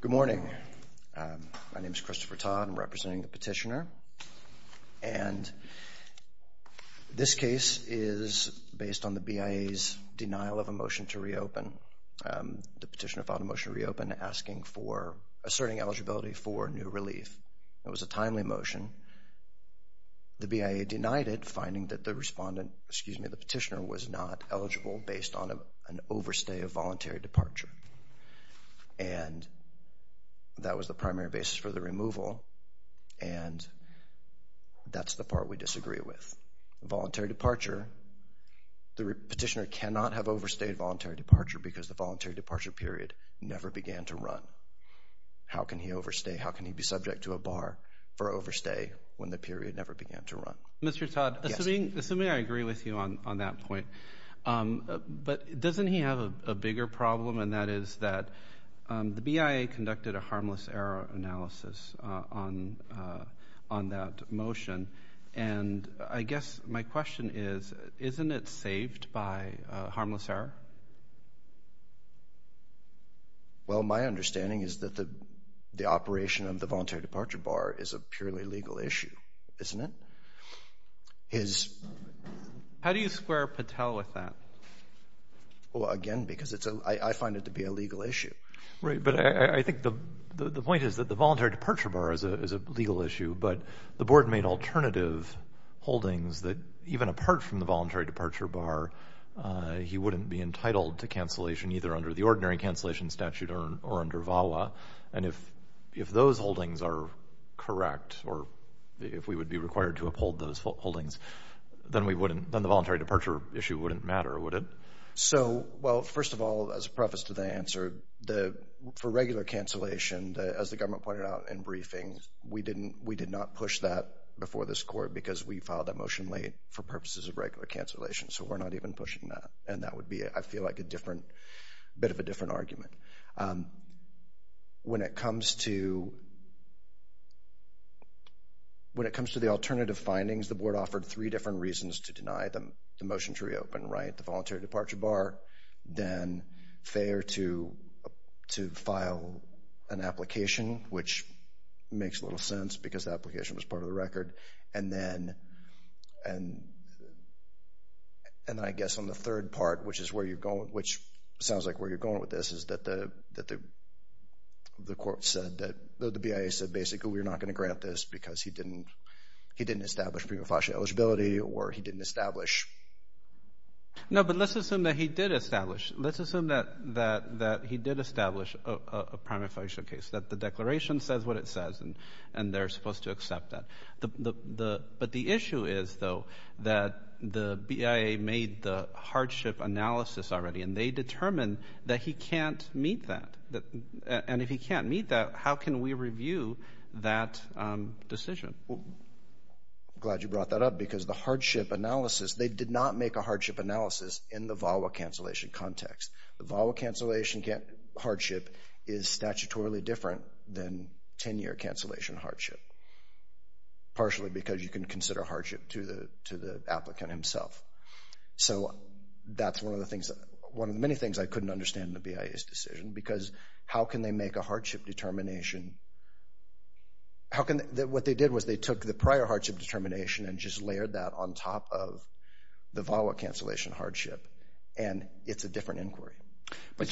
Good morning. My name is Christopher Todd. I'm representing the petitioner. And this case is based on the BIA's denial of a motion to reopen. The petitioner filed a motion to reopen, asking for, asserting eligibility for new relief. It was a timely motion. The BIA denied it, finding that the respondent, excuse me, the petitioner, was not eligible based on an overstay of voluntary departure. And that was the primary basis for the removal, and that's the part we disagree with. Voluntary departure, the petitioner cannot have overstayed voluntary departure because the voluntary departure period never began to run. How can he overstay? How can he be subject to a bar for overstay when the period never began to run? Mr. Todd, assuming I agree with you on that point, but doesn't he have a bigger problem, and that is that the BIA conducted a harmless error analysis on that motion. And I guess my question is, isn't it saved by harmless error? Well, my understanding is that the operation of the voluntary departure bar is a purely legal issue, isn't it? How do you square Patel with that? Well, again, because I find it to be a legal issue. Right, but I think the point is that the voluntary departure bar is a legal issue, but the board made alternative holdings that even apart from the voluntary departure bar, he wouldn't be entitled to cancellation either under the ordinary cancellation statute or under VAWA. And if those holdings are correct or if we would be required to uphold those holdings, then the voluntary departure issue wouldn't matter, would it? So, well, first of all, as a preface to the answer, for regular cancellation, as the government pointed out in briefing, we did not push that before this court because we filed that motion late for purposes of regular cancellation. So we're not even pushing that, and that would be, I feel like, a bit of a different argument. When it comes to the alternative findings, the board offered three different reasons to deny the motion to reopen, right? The voluntary departure bar, then fair to file an application, which makes little sense because the application was part of the record, and then I guess on the third part, which sounds like where you're going with this, is that the court said that the BIA said basically we're not going to grant this because he didn't establish prima facie eligibility or he didn't establish. No, but let's assume that he did establish. Let's assume that he did establish a prima facie case, that the declaration says what it says, and they're supposed to accept that. But the issue is, though, that the BIA made the hardship analysis already, and they determined that he can't meet that. And if he can't meet that, how can we review that decision? I'm glad you brought that up because the hardship analysis, they did not make a hardship analysis in the VAWA cancellation context. The VAWA cancellation hardship is statutorily different than 10-year cancellation hardship, partially because you can consider hardship to the applicant himself. So that's one of the many things I couldn't understand in the BIA's decision because how can they make a hardship determination? What they did was they took the prior hardship determination and just layered that on top of the VAWA cancellation hardship, and it's a different inquiry. I'm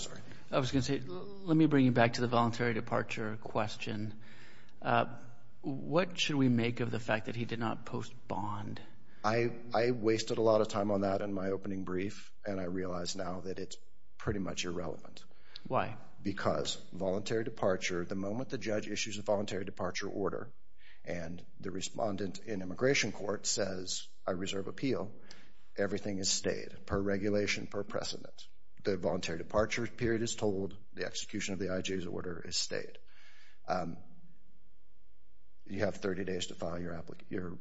sorry. I was going to say, let me bring you back to the voluntary departure question. What should we make of the fact that he did not post bond? I wasted a lot of time on that in my opening brief, and I realize now that it's pretty much irrelevant. Why? Because voluntary departure, the moment the judge issues a voluntary departure order and the respondent in immigration court says, I reserve appeal, everything is stayed, per regulation, per precedent. The voluntary departure period is told. The execution of the IJ's order is stayed. You have 30 days to file your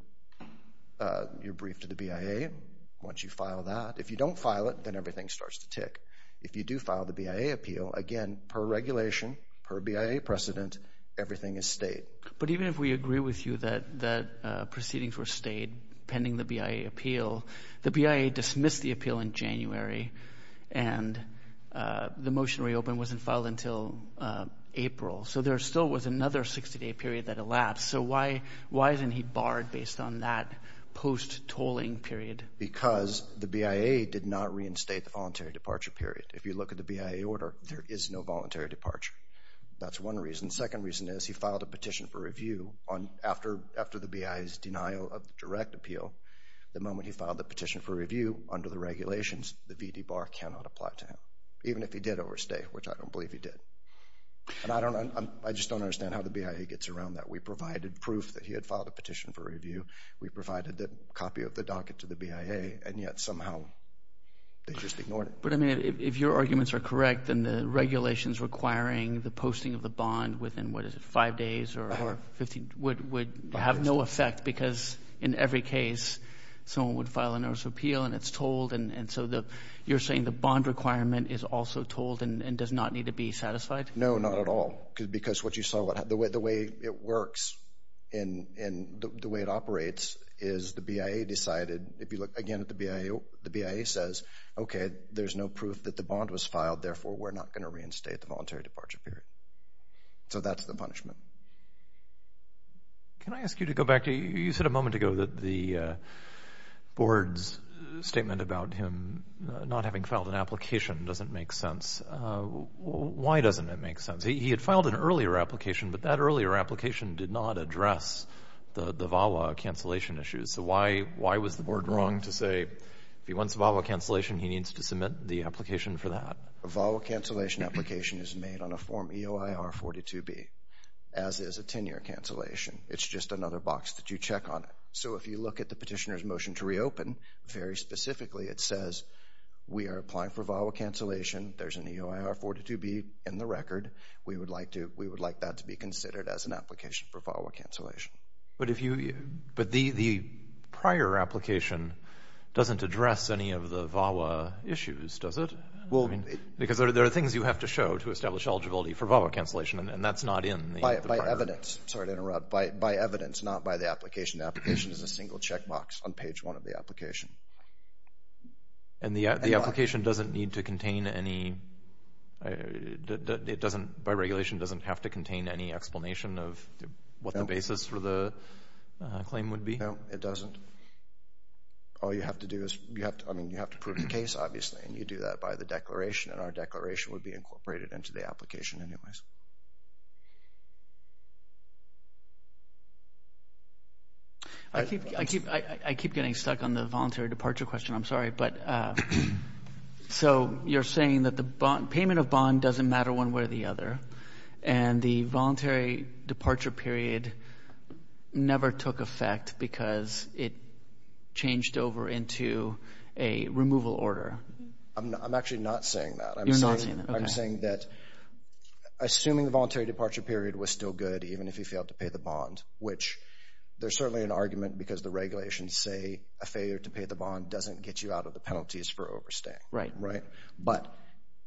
brief to the BIA once you file that. If you don't file it, then everything starts to tick. If you do file the BIA appeal, again, per regulation, per BIA precedent, everything is stayed. But even if we agree with you that proceedings were stayed pending the BIA appeal, the BIA dismissed the appeal in January, and the motion reopened wasn't filed until April. So there still was another 60-day period that elapsed. So why isn't he barred based on that post-tolling period? Because the BIA did not reinstate the voluntary departure period. If you look at the BIA order, there is no voluntary departure. That's one reason. The second reason is he filed a petition for review after the BIA's denial of direct appeal. The moment he filed the petition for review, under the regulations, the VD bar cannot apply to him, even if he did overstay, which I don't believe he did. And I just don't understand how the BIA gets around that. We provided proof that he had filed a petition for review. We provided the copy of the docket to the BIA, and yet somehow they just ignored it. But, I mean, if your arguments are correct, then the regulations requiring the posting of the bond within, what is it, five days or 15, would have no effect because in every case someone would file a notice of appeal and it's told. And so you're saying the bond requirement is also told and does not need to be satisfied? No, not at all, because what you saw, the way it works and the way it operates is the BIA decided, if you look again at the BIA, the BIA says, okay, there's no proof that the bond was filed, therefore we're not going to reinstate the voluntary departure period. So that's the punishment. Can I ask you to go back? You said a moment ago that the board's statement about him not having filed an application doesn't make sense. Why doesn't it make sense? He had filed an earlier application, but that earlier application did not address the VAWA cancellation issues. So why was the board wrong to say if he wants VAWA cancellation, he needs to submit the application for that? A VAWA cancellation application is made on a Form EOIR-42B, as is a 10-year cancellation. It's just another box that you check on it. So if you look at the petitioner's motion to reopen, very specifically it says we are applying for VAWA cancellation, there's an EOIR-42B in the record, we would like that to be considered as an application for VAWA cancellation. But the prior application doesn't address any of the VAWA issues, does it? Because there are things you have to show to establish eligibility for VAWA cancellation, and that's not in the prior. By evidence. Sorry to interrupt. By evidence, not by the application. The application is a single checkbox on page one of the application. And the application doesn't need to contain any, by regulation, doesn't have to contain any explanation of what the basis for the claim would be? No, it doesn't. All you have to do is, I mean, you have to prove the case, obviously, and you do that by the declaration, and our declaration would be incorporated into the application anyways. I keep getting stuck on the voluntary departure question. I'm sorry. So you're saying that the payment of bond doesn't matter one way or the other, and the voluntary departure period never took effect because it changed over into a removal order? I'm actually not saying that. You're not saying that. I'm saying that assuming the voluntary departure period was still good even if you failed to pay the bond, which there's certainly an argument because the regulations say a failure to pay the bond doesn't get you out of the penalties for overstaying. Right. Right. But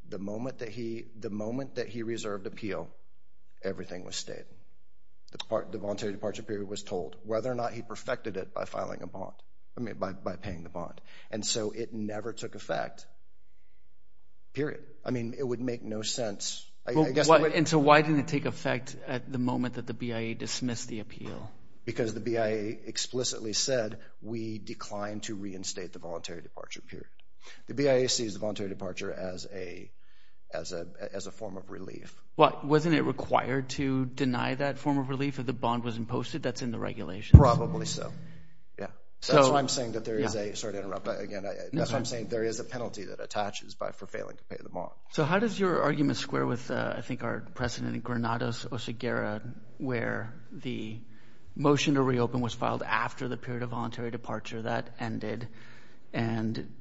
the moment that he reserved appeal, everything was stated. The voluntary departure period was told, whether or not he perfected it by paying the bond. And so it never took effect. Period. I mean, it would make no sense. And so why didn't it take effect at the moment that the BIA dismissed the appeal? Because the BIA explicitly said we declined to reinstate the voluntary departure period. The BIA sees the voluntary departure as a form of relief. Wasn't it required to deny that form of relief if the bond was imposed? That's in the regulations. Probably so. Yeah. That's why I'm saying that there is a penalty that attaches by failing to pay the bond. So how does your argument square with, I think, our precedent in Granados, Oceguera, where the motion to reopen was filed after the period of voluntary departure that ended and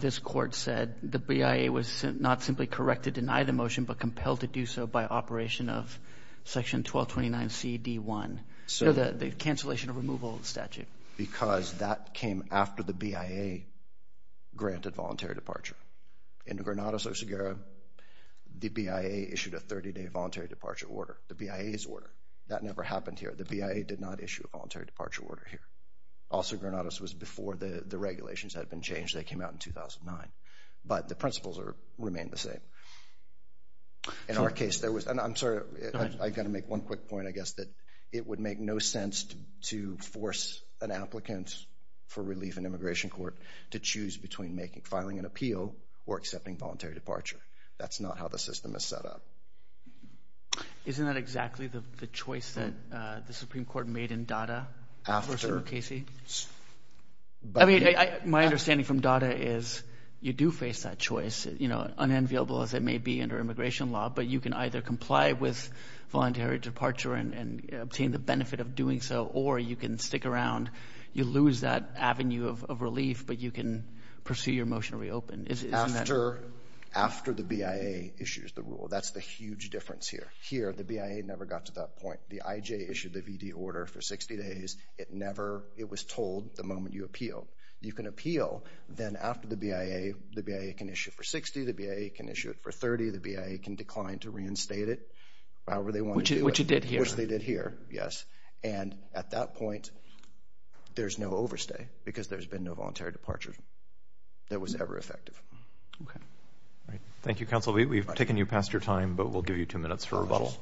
this court said the BIA was not simply correct to deny the motion, but compelled to do so by operation of section 1229CD1, the cancellation of removal statute? Because that came after the BIA granted voluntary departure. In Granados, Oceguera, the BIA issued a 30-day voluntary departure order, the BIA's order. That never happened here. The BIA did not issue a voluntary departure order here. Also, Granados was before the regulations had been changed. They came out in 2009. But the principles remain the same. In our case, there was, and I'm sorry, I've got to make one quick point, I guess, that it would make no sense to force an applicant for relief in immigration court to choose between filing an appeal or accepting voluntary departure. That's not how the system is set up. Isn't that exactly the choice that the Supreme Court made in DADA? After. For Senator Casey? I mean, my understanding from DADA is you do face that choice, you know, unenviable as it may be under immigration law, but you can either comply with voluntary departure and obtain the benefit of doing so, or you can stick around. After the BIA issues the rule. That's the huge difference here. Here, the BIA never got to that point. The IJ issued the VD order for 60 days. It never, it was told the moment you appeal. You can appeal, then after the BIA, the BIA can issue it for 60, the BIA can issue it for 30, the BIA can decline to reinstate it, however they want to do it. Which it did here. Which they did here, yes. And at that point, there's no overstay because there's been no voluntary departure that was ever effective. Okay. Thank you, Counsel Lee. We've taken you past your time, but we'll give you two minutes for rebuttal.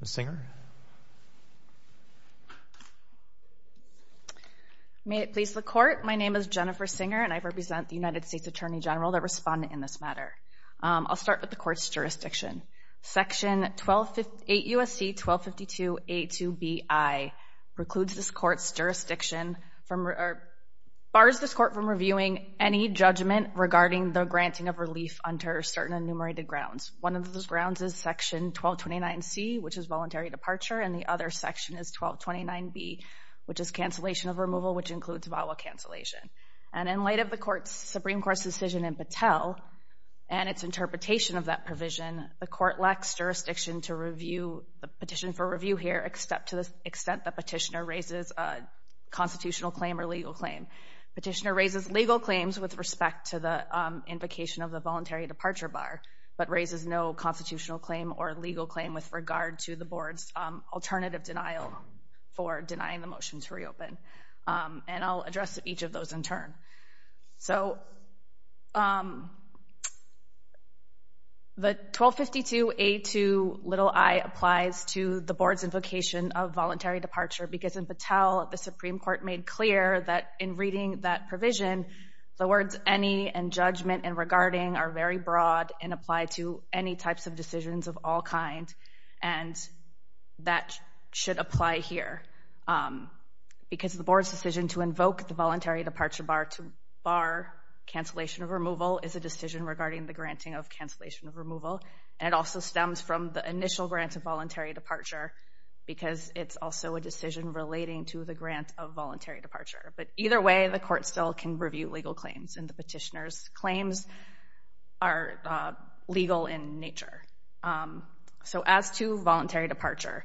Ms. Singer? May it please the Court, my name is Jennifer Singer, and I represent the United States Attorney General that responded in this matter. I'll start with the Court's jurisdiction. Section 8 U.S.C. 1252.A.2.B.I. precludes this Court's jurisdiction from, bars this Court from reviewing any judgment regarding the granting of relief under certain enumerated grounds. One of those grounds is Section 1229.C., which is voluntary departure, and the other section is 1229.B., which is cancellation of removal, which includes violent cancellation. And in light of the Supreme Court's decision in Patel and its interpretation of that provision, the Court lacks jurisdiction to review the petition for review here to the extent the petitioner raises a constitutional claim or legal claim. Petitioner raises legal claims with respect to the invocation of the voluntary departure bar, but raises no constitutional claim or legal claim with regard to the Board's alternative denial for denying the motion to reopen. And I'll address each of those in turn. So, the 1252.A.2.i applies to the Board's invocation of voluntary departure because in Patel, the Supreme Court made clear that in reading that provision, the words any and judgment and regarding are very broad and apply to any types of decisions of all kinds, and that should apply here because the Board's decision to invoke the voluntary departure bar to bar cancellation of removal is a decision regarding the granting of cancellation of removal, and it also stems from the initial grant of voluntary departure because it's also a decision relating to the grant of voluntary departure. But either way, the Court still can review legal claims, and the petitioner's claims are legal in nature. So, as to voluntary departure,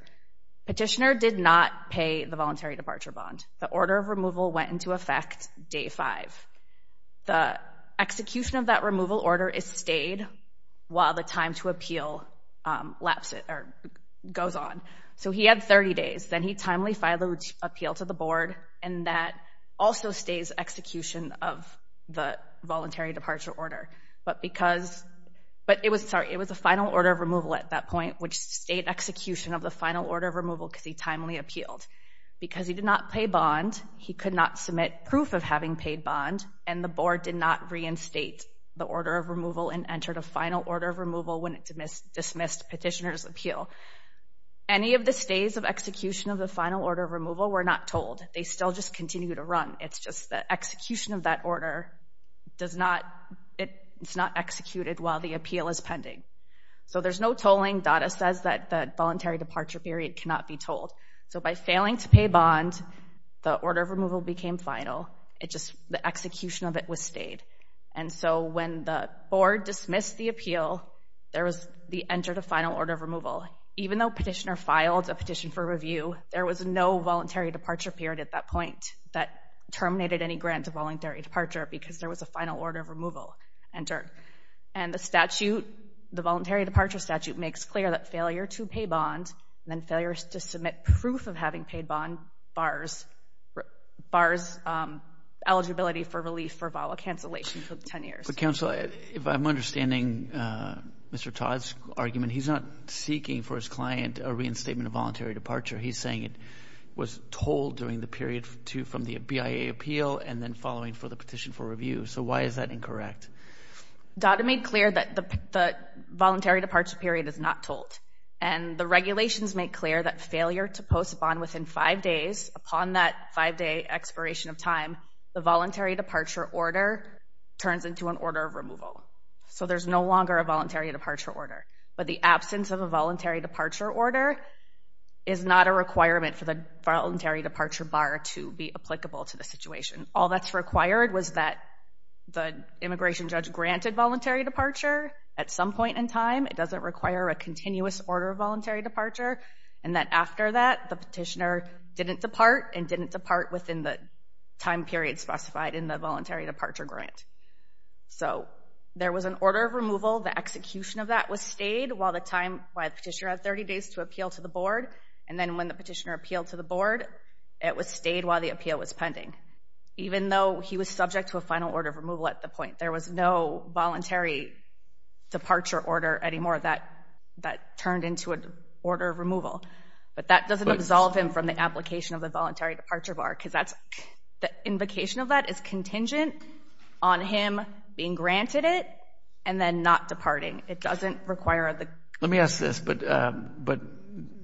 petitioner did not pay the voluntary departure bond. The order of removal went into effect day five. The execution of that removal order is stayed while the time to appeal lapses or goes on. So, he had 30 days. Then he timely filed the appeal to the Board, and that also stays execution of the voluntary departure order. But it was a final order of removal at that point, which stayed execution of the final order of removal because he timely appealed because he did not pay bond, he could not submit proof of having paid bond, and the Board did not reinstate the order of removal and entered a final order of removal when it dismissed petitioner's appeal. Any of the stays of execution of the final order of removal were not told. They still just continue to run. It's just the execution of that order, it's not executed while the appeal is pending. So, there's no tolling. Data says that the voluntary departure period cannot be told. So, by failing to pay bond, the order of removal became final. It's just the execution of it was stayed. And so, when the Board dismissed the appeal, there was the enter to final order of removal. Even though petitioner filed a petition for review, there was no voluntary departure period at that point that terminated any grant of voluntary departure because there was a final order of removal entered. And the statute, the voluntary departure statute, makes clear that failure to pay bond and then failure to submit proof of having paid bond bars eligibility for relief for vial cancellation for 10 years. But, Counsel, if I'm understanding Mr. Todd's argument, he's not seeking for his client a reinstatement of voluntary departure. He's saying it was told during the period from the BIA appeal and then following for the petition for review. So, why is that incorrect? Data made clear that the voluntary departure period is not told. And the regulations make clear that failure to post a bond within five days, upon that five-day expiration of time, the voluntary departure order turns into an order of removal. So, there's no longer a voluntary departure order. But the absence of a voluntary departure order is not a requirement for the voluntary departure bar to be applicable to the situation. All that's required was that the immigration judge granted voluntary departure at some point in time. It doesn't require a continuous order of voluntary departure. And that after that, the petitioner didn't depart and didn't depart within the time period specified in the voluntary departure grant. So, there was an order of removal. The execution of that was stayed while the time by the petitioner had 30 days to appeal to the board. And then when the petitioner appealed to the board, it was stayed while the appeal was pending, even though he was subject to a final order of removal at the point. There was no voluntary departure order anymore that turned into an order of removal. But that doesn't absolve him from the application of the voluntary departure bar, because the invocation of that is contingent on him being granted it and then not departing. It doesn't require the... Let me ask this. But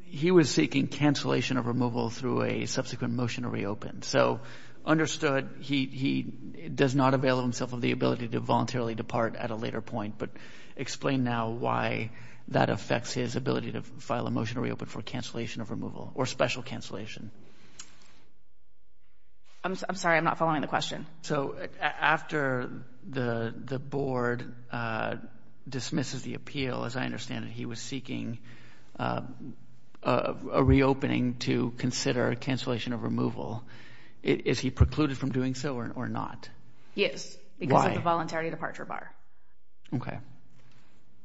he was seeking cancellation of removal through a subsequent motion to reopen. So, understood he does not avail himself of the ability to voluntarily depart at a later point. But explain now why that affects his ability to file a motion to reopen for cancellation of removal or special cancellation. I'm sorry, I'm not following the question. So, after the board dismisses the appeal, as I understand it, he was seeking a reopening to consider cancellation of removal. Is he precluded from doing so or not? Yes. Because of the voluntary departure bar. Okay.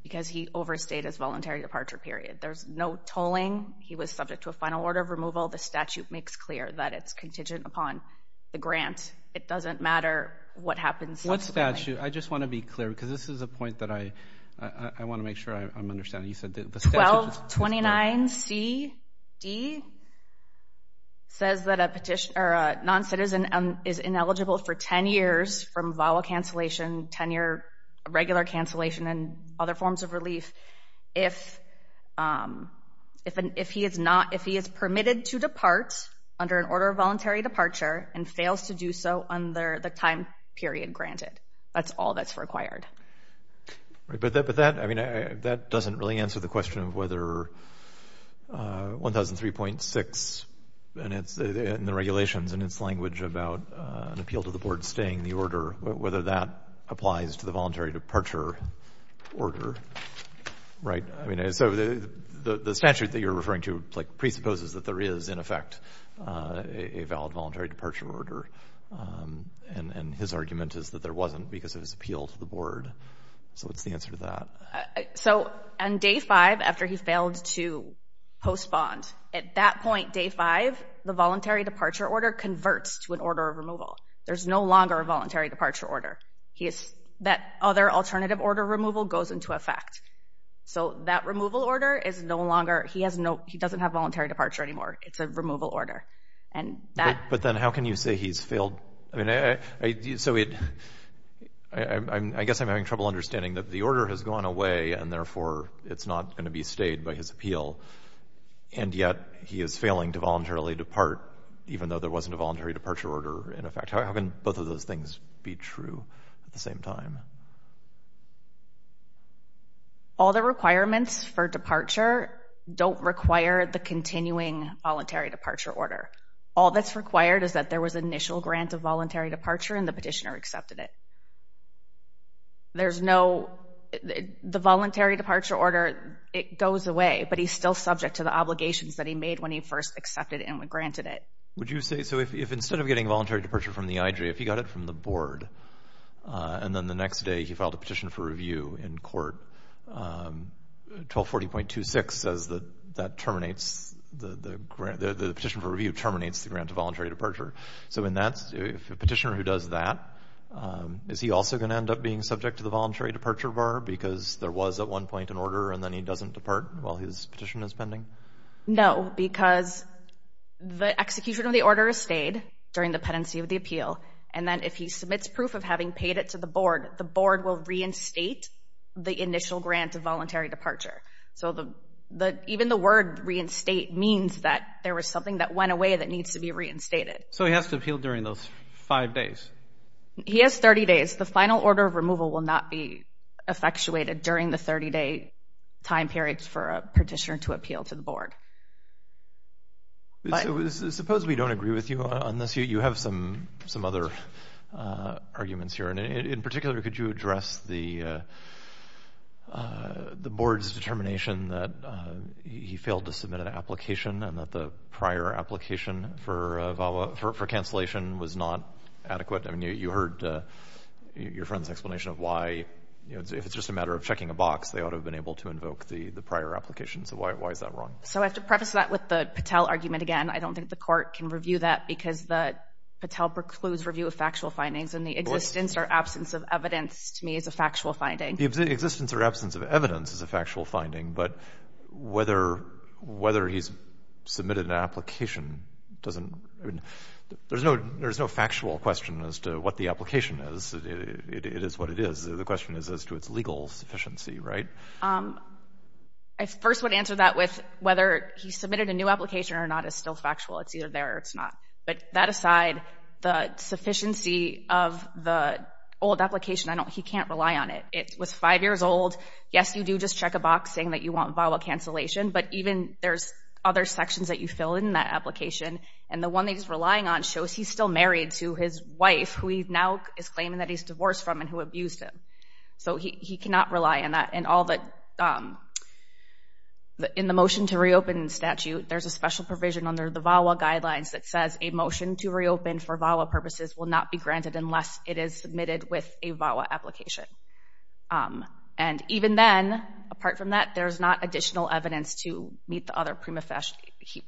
Because he overstayed his voluntary departure period. There's no tolling. He was subject to a final order of removal. The statute makes clear that it's contingent upon the grant. It doesn't matter what happens subsequently. What statute? I just want to be clear, because this is a point that I want to make sure I'm understanding. You said the statute... Article 29CD says that a non-citizen is ineligible for 10 years from vowel cancellation, 10-year regular cancellation, and other forms of relief if he is permitted to depart under an order of voluntary departure and fails to do so under the time period granted. That's all that's required. But that doesn't really answer the question of whether 1003.6 and the regulations and its language about an appeal to the board staying the order, whether that applies to the voluntary departure order. Right? So the statute that you're referring to presupposes that there is, in effect, a valid voluntary departure order. And his argument is that there wasn't because it was appealed to the board. So what's the answer to that? So on day five, after he failed to postpone, at that point, day five, the voluntary departure order converts to an order of removal. There's no longer a voluntary departure order. That other alternative order of removal goes into effect. So that removal order is no longer. He doesn't have voluntary departure anymore. It's a removal order. But then how can you say he's failed? I guess I'm having trouble understanding that the order has gone away and, therefore, it's not going to be stayed by his appeal, and yet he is failing to voluntarily depart, even though there wasn't a voluntary departure order in effect. How can both of those things be true at the same time? All the requirements for departure don't require the continuing voluntary departure order. All that's required is that there was initial grant of voluntary departure and the petitioner accepted it. There's no... The voluntary departure order, it goes away, but he's still subject to the obligations that he made when he first accepted it and granted it. Would you say, so if instead of getting voluntary departure from the IJ, if he got it from the board, and then the next day he filed a petition for review in court, 1240.26 says that that terminates... The petition for review terminates the grant of voluntary departure. So if a petitioner who does that, is he also going to end up being subject to the voluntary departure bar because there was at one point an order and then he doesn't depart while his petition is pending? No, because the execution of the order is stayed during the pendency of the appeal, and then if he submits proof of having paid it to the board, the board will reinstate the initial grant of voluntary departure. So even the word reinstate means that there was something that went away that needs to be reinstated. So he has to appeal during those five days? He has 30 days. The final order of removal will not be effectuated during the 30-day time period for a petitioner to appeal to the board. Suppose we don't agree with you on this. You have some other arguments here, and in particular, could you address the board's determination that he failed to submit an application and that the prior application for cancellation was not adequate? I mean, you heard your friend's explanation of why, if it's just a matter of checking a box, they ought to have been able to invoke the prior application. So why is that wrong? So I have to preface that with the Patel argument again. I don't think the court can review that because the Patel precludes review of factual findings and the existence or absence of evidence, to me, is a factual finding. The existence or absence of evidence is a factual finding, but whether he's submitted an application doesn't— I mean, there's no factual question as to what the application is. It is what it is. The question is as to its legal sufficiency, right? I first would answer that with whether he submitted a new application or not is still factual. It's either there or it's not. But that aside, the sufficiency of the old application, he can't rely on it. It was five years old. Yes, you do just check a box saying that you want VAWA cancellation, but even there's other sections that you fill in that application, and the one that he's relying on shows he's still married to his wife, who he now is claiming that he's divorced from and who abused him. So he cannot rely on that. In the motion to reopen statute, there's a special provision under the VAWA guidelines that says a motion to reopen for VAWA purposes will not be granted unless it is submitted with a VAWA application. And even then, apart from that, there's not additional evidence to meet the other prima facie.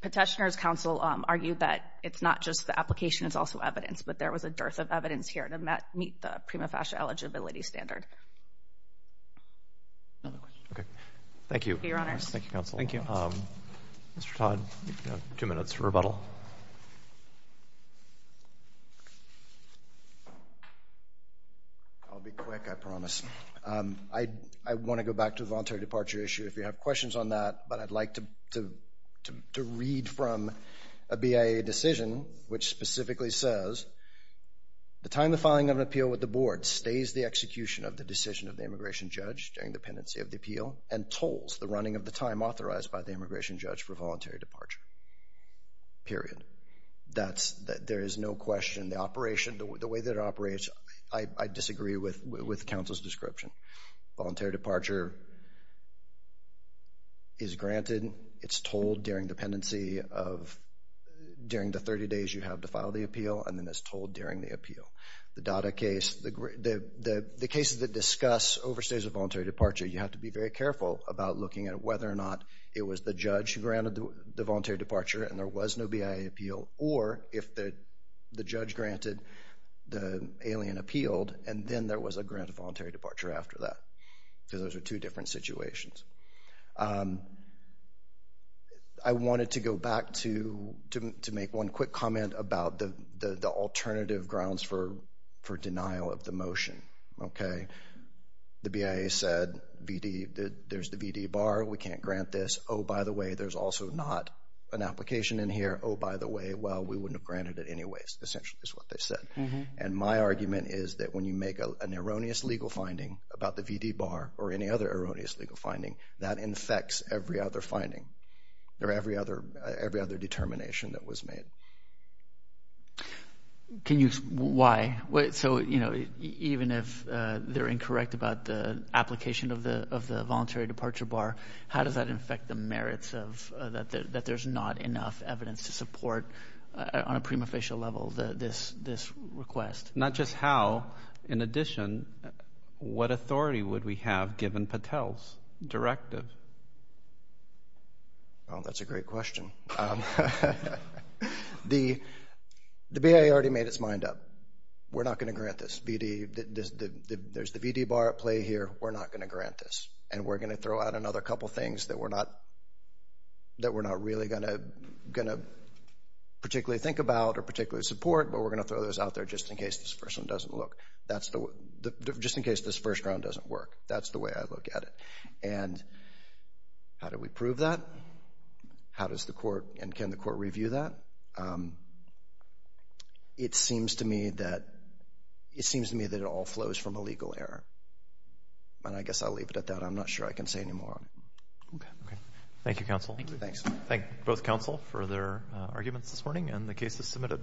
Petitioner's counsel argued that it's not just the application, it's also evidence, but there was a dearth of evidence here to meet the prima facie eligibility standard. Okay. Thank you. Thank you, Your Honors. Thank you, Counsel. Thank you. Mr. Todd, you have two minutes for rebuttal. I'll be quick, I promise. I want to go back to the voluntary departure issue if you have questions on that, but I'd like to read from a BIA decision which specifically says, the time of filing of an appeal with the board stays the execution of the decision of the immigration judge during the pendency of the appeal and tolls the running of the time authorized by the immigration judge for voluntary departure, period. There is no question. The way that it operates, I disagree with counsel's description. Voluntary departure is granted. It's tolled during the 30 days you have to file the appeal, and then it's tolled during the appeal. The DADA case, the cases that discuss overstays of voluntary departure, you have to be very careful about looking at whether or not it was the judge who granted the voluntary departure and there was no BIA appeal, or if the judge granted the alien appealed and then there was a grant of voluntary departure after that because those are two different situations. I wanted to go back to make one quick comment about the alternative grounds for denial of the motion. The BIA said there's the VD bar, we can't grant this. Oh, by the way, there's also not an application in here. Oh, by the way, well, we wouldn't have granted it anyways, essentially is what they said. And my argument is that when you make an erroneous legal finding about the VD bar or any other erroneous legal finding, that infects every other finding or every other determination that was made. Why? So, you know, even if they're incorrect about the application of the voluntary departure bar, how does that infect the merits that there's not enough evidence to support, on a prima facie level, this request? Not just how, in addition, what authority would we have given Patel's directive? Oh, that's a great question. The BIA already made its mind up. We're not going to grant this VD. There's the VD bar at play here. We're not going to grant this. And we're going to throw out another couple things that we're not really going to particularly think about or particularly support, but we're going to throw those out there just in case this first one doesn't look. Just in case this first round doesn't work. That's the way I look at it. And how do we prove that? How does the court, and can the court review that? It seems to me that it all flows from a legal error. And I guess I'll leave it at that. I'm not sure I can say any more. Okay. Thank you, counsel. Thank both counsel for their arguments this morning, and the case is submitted.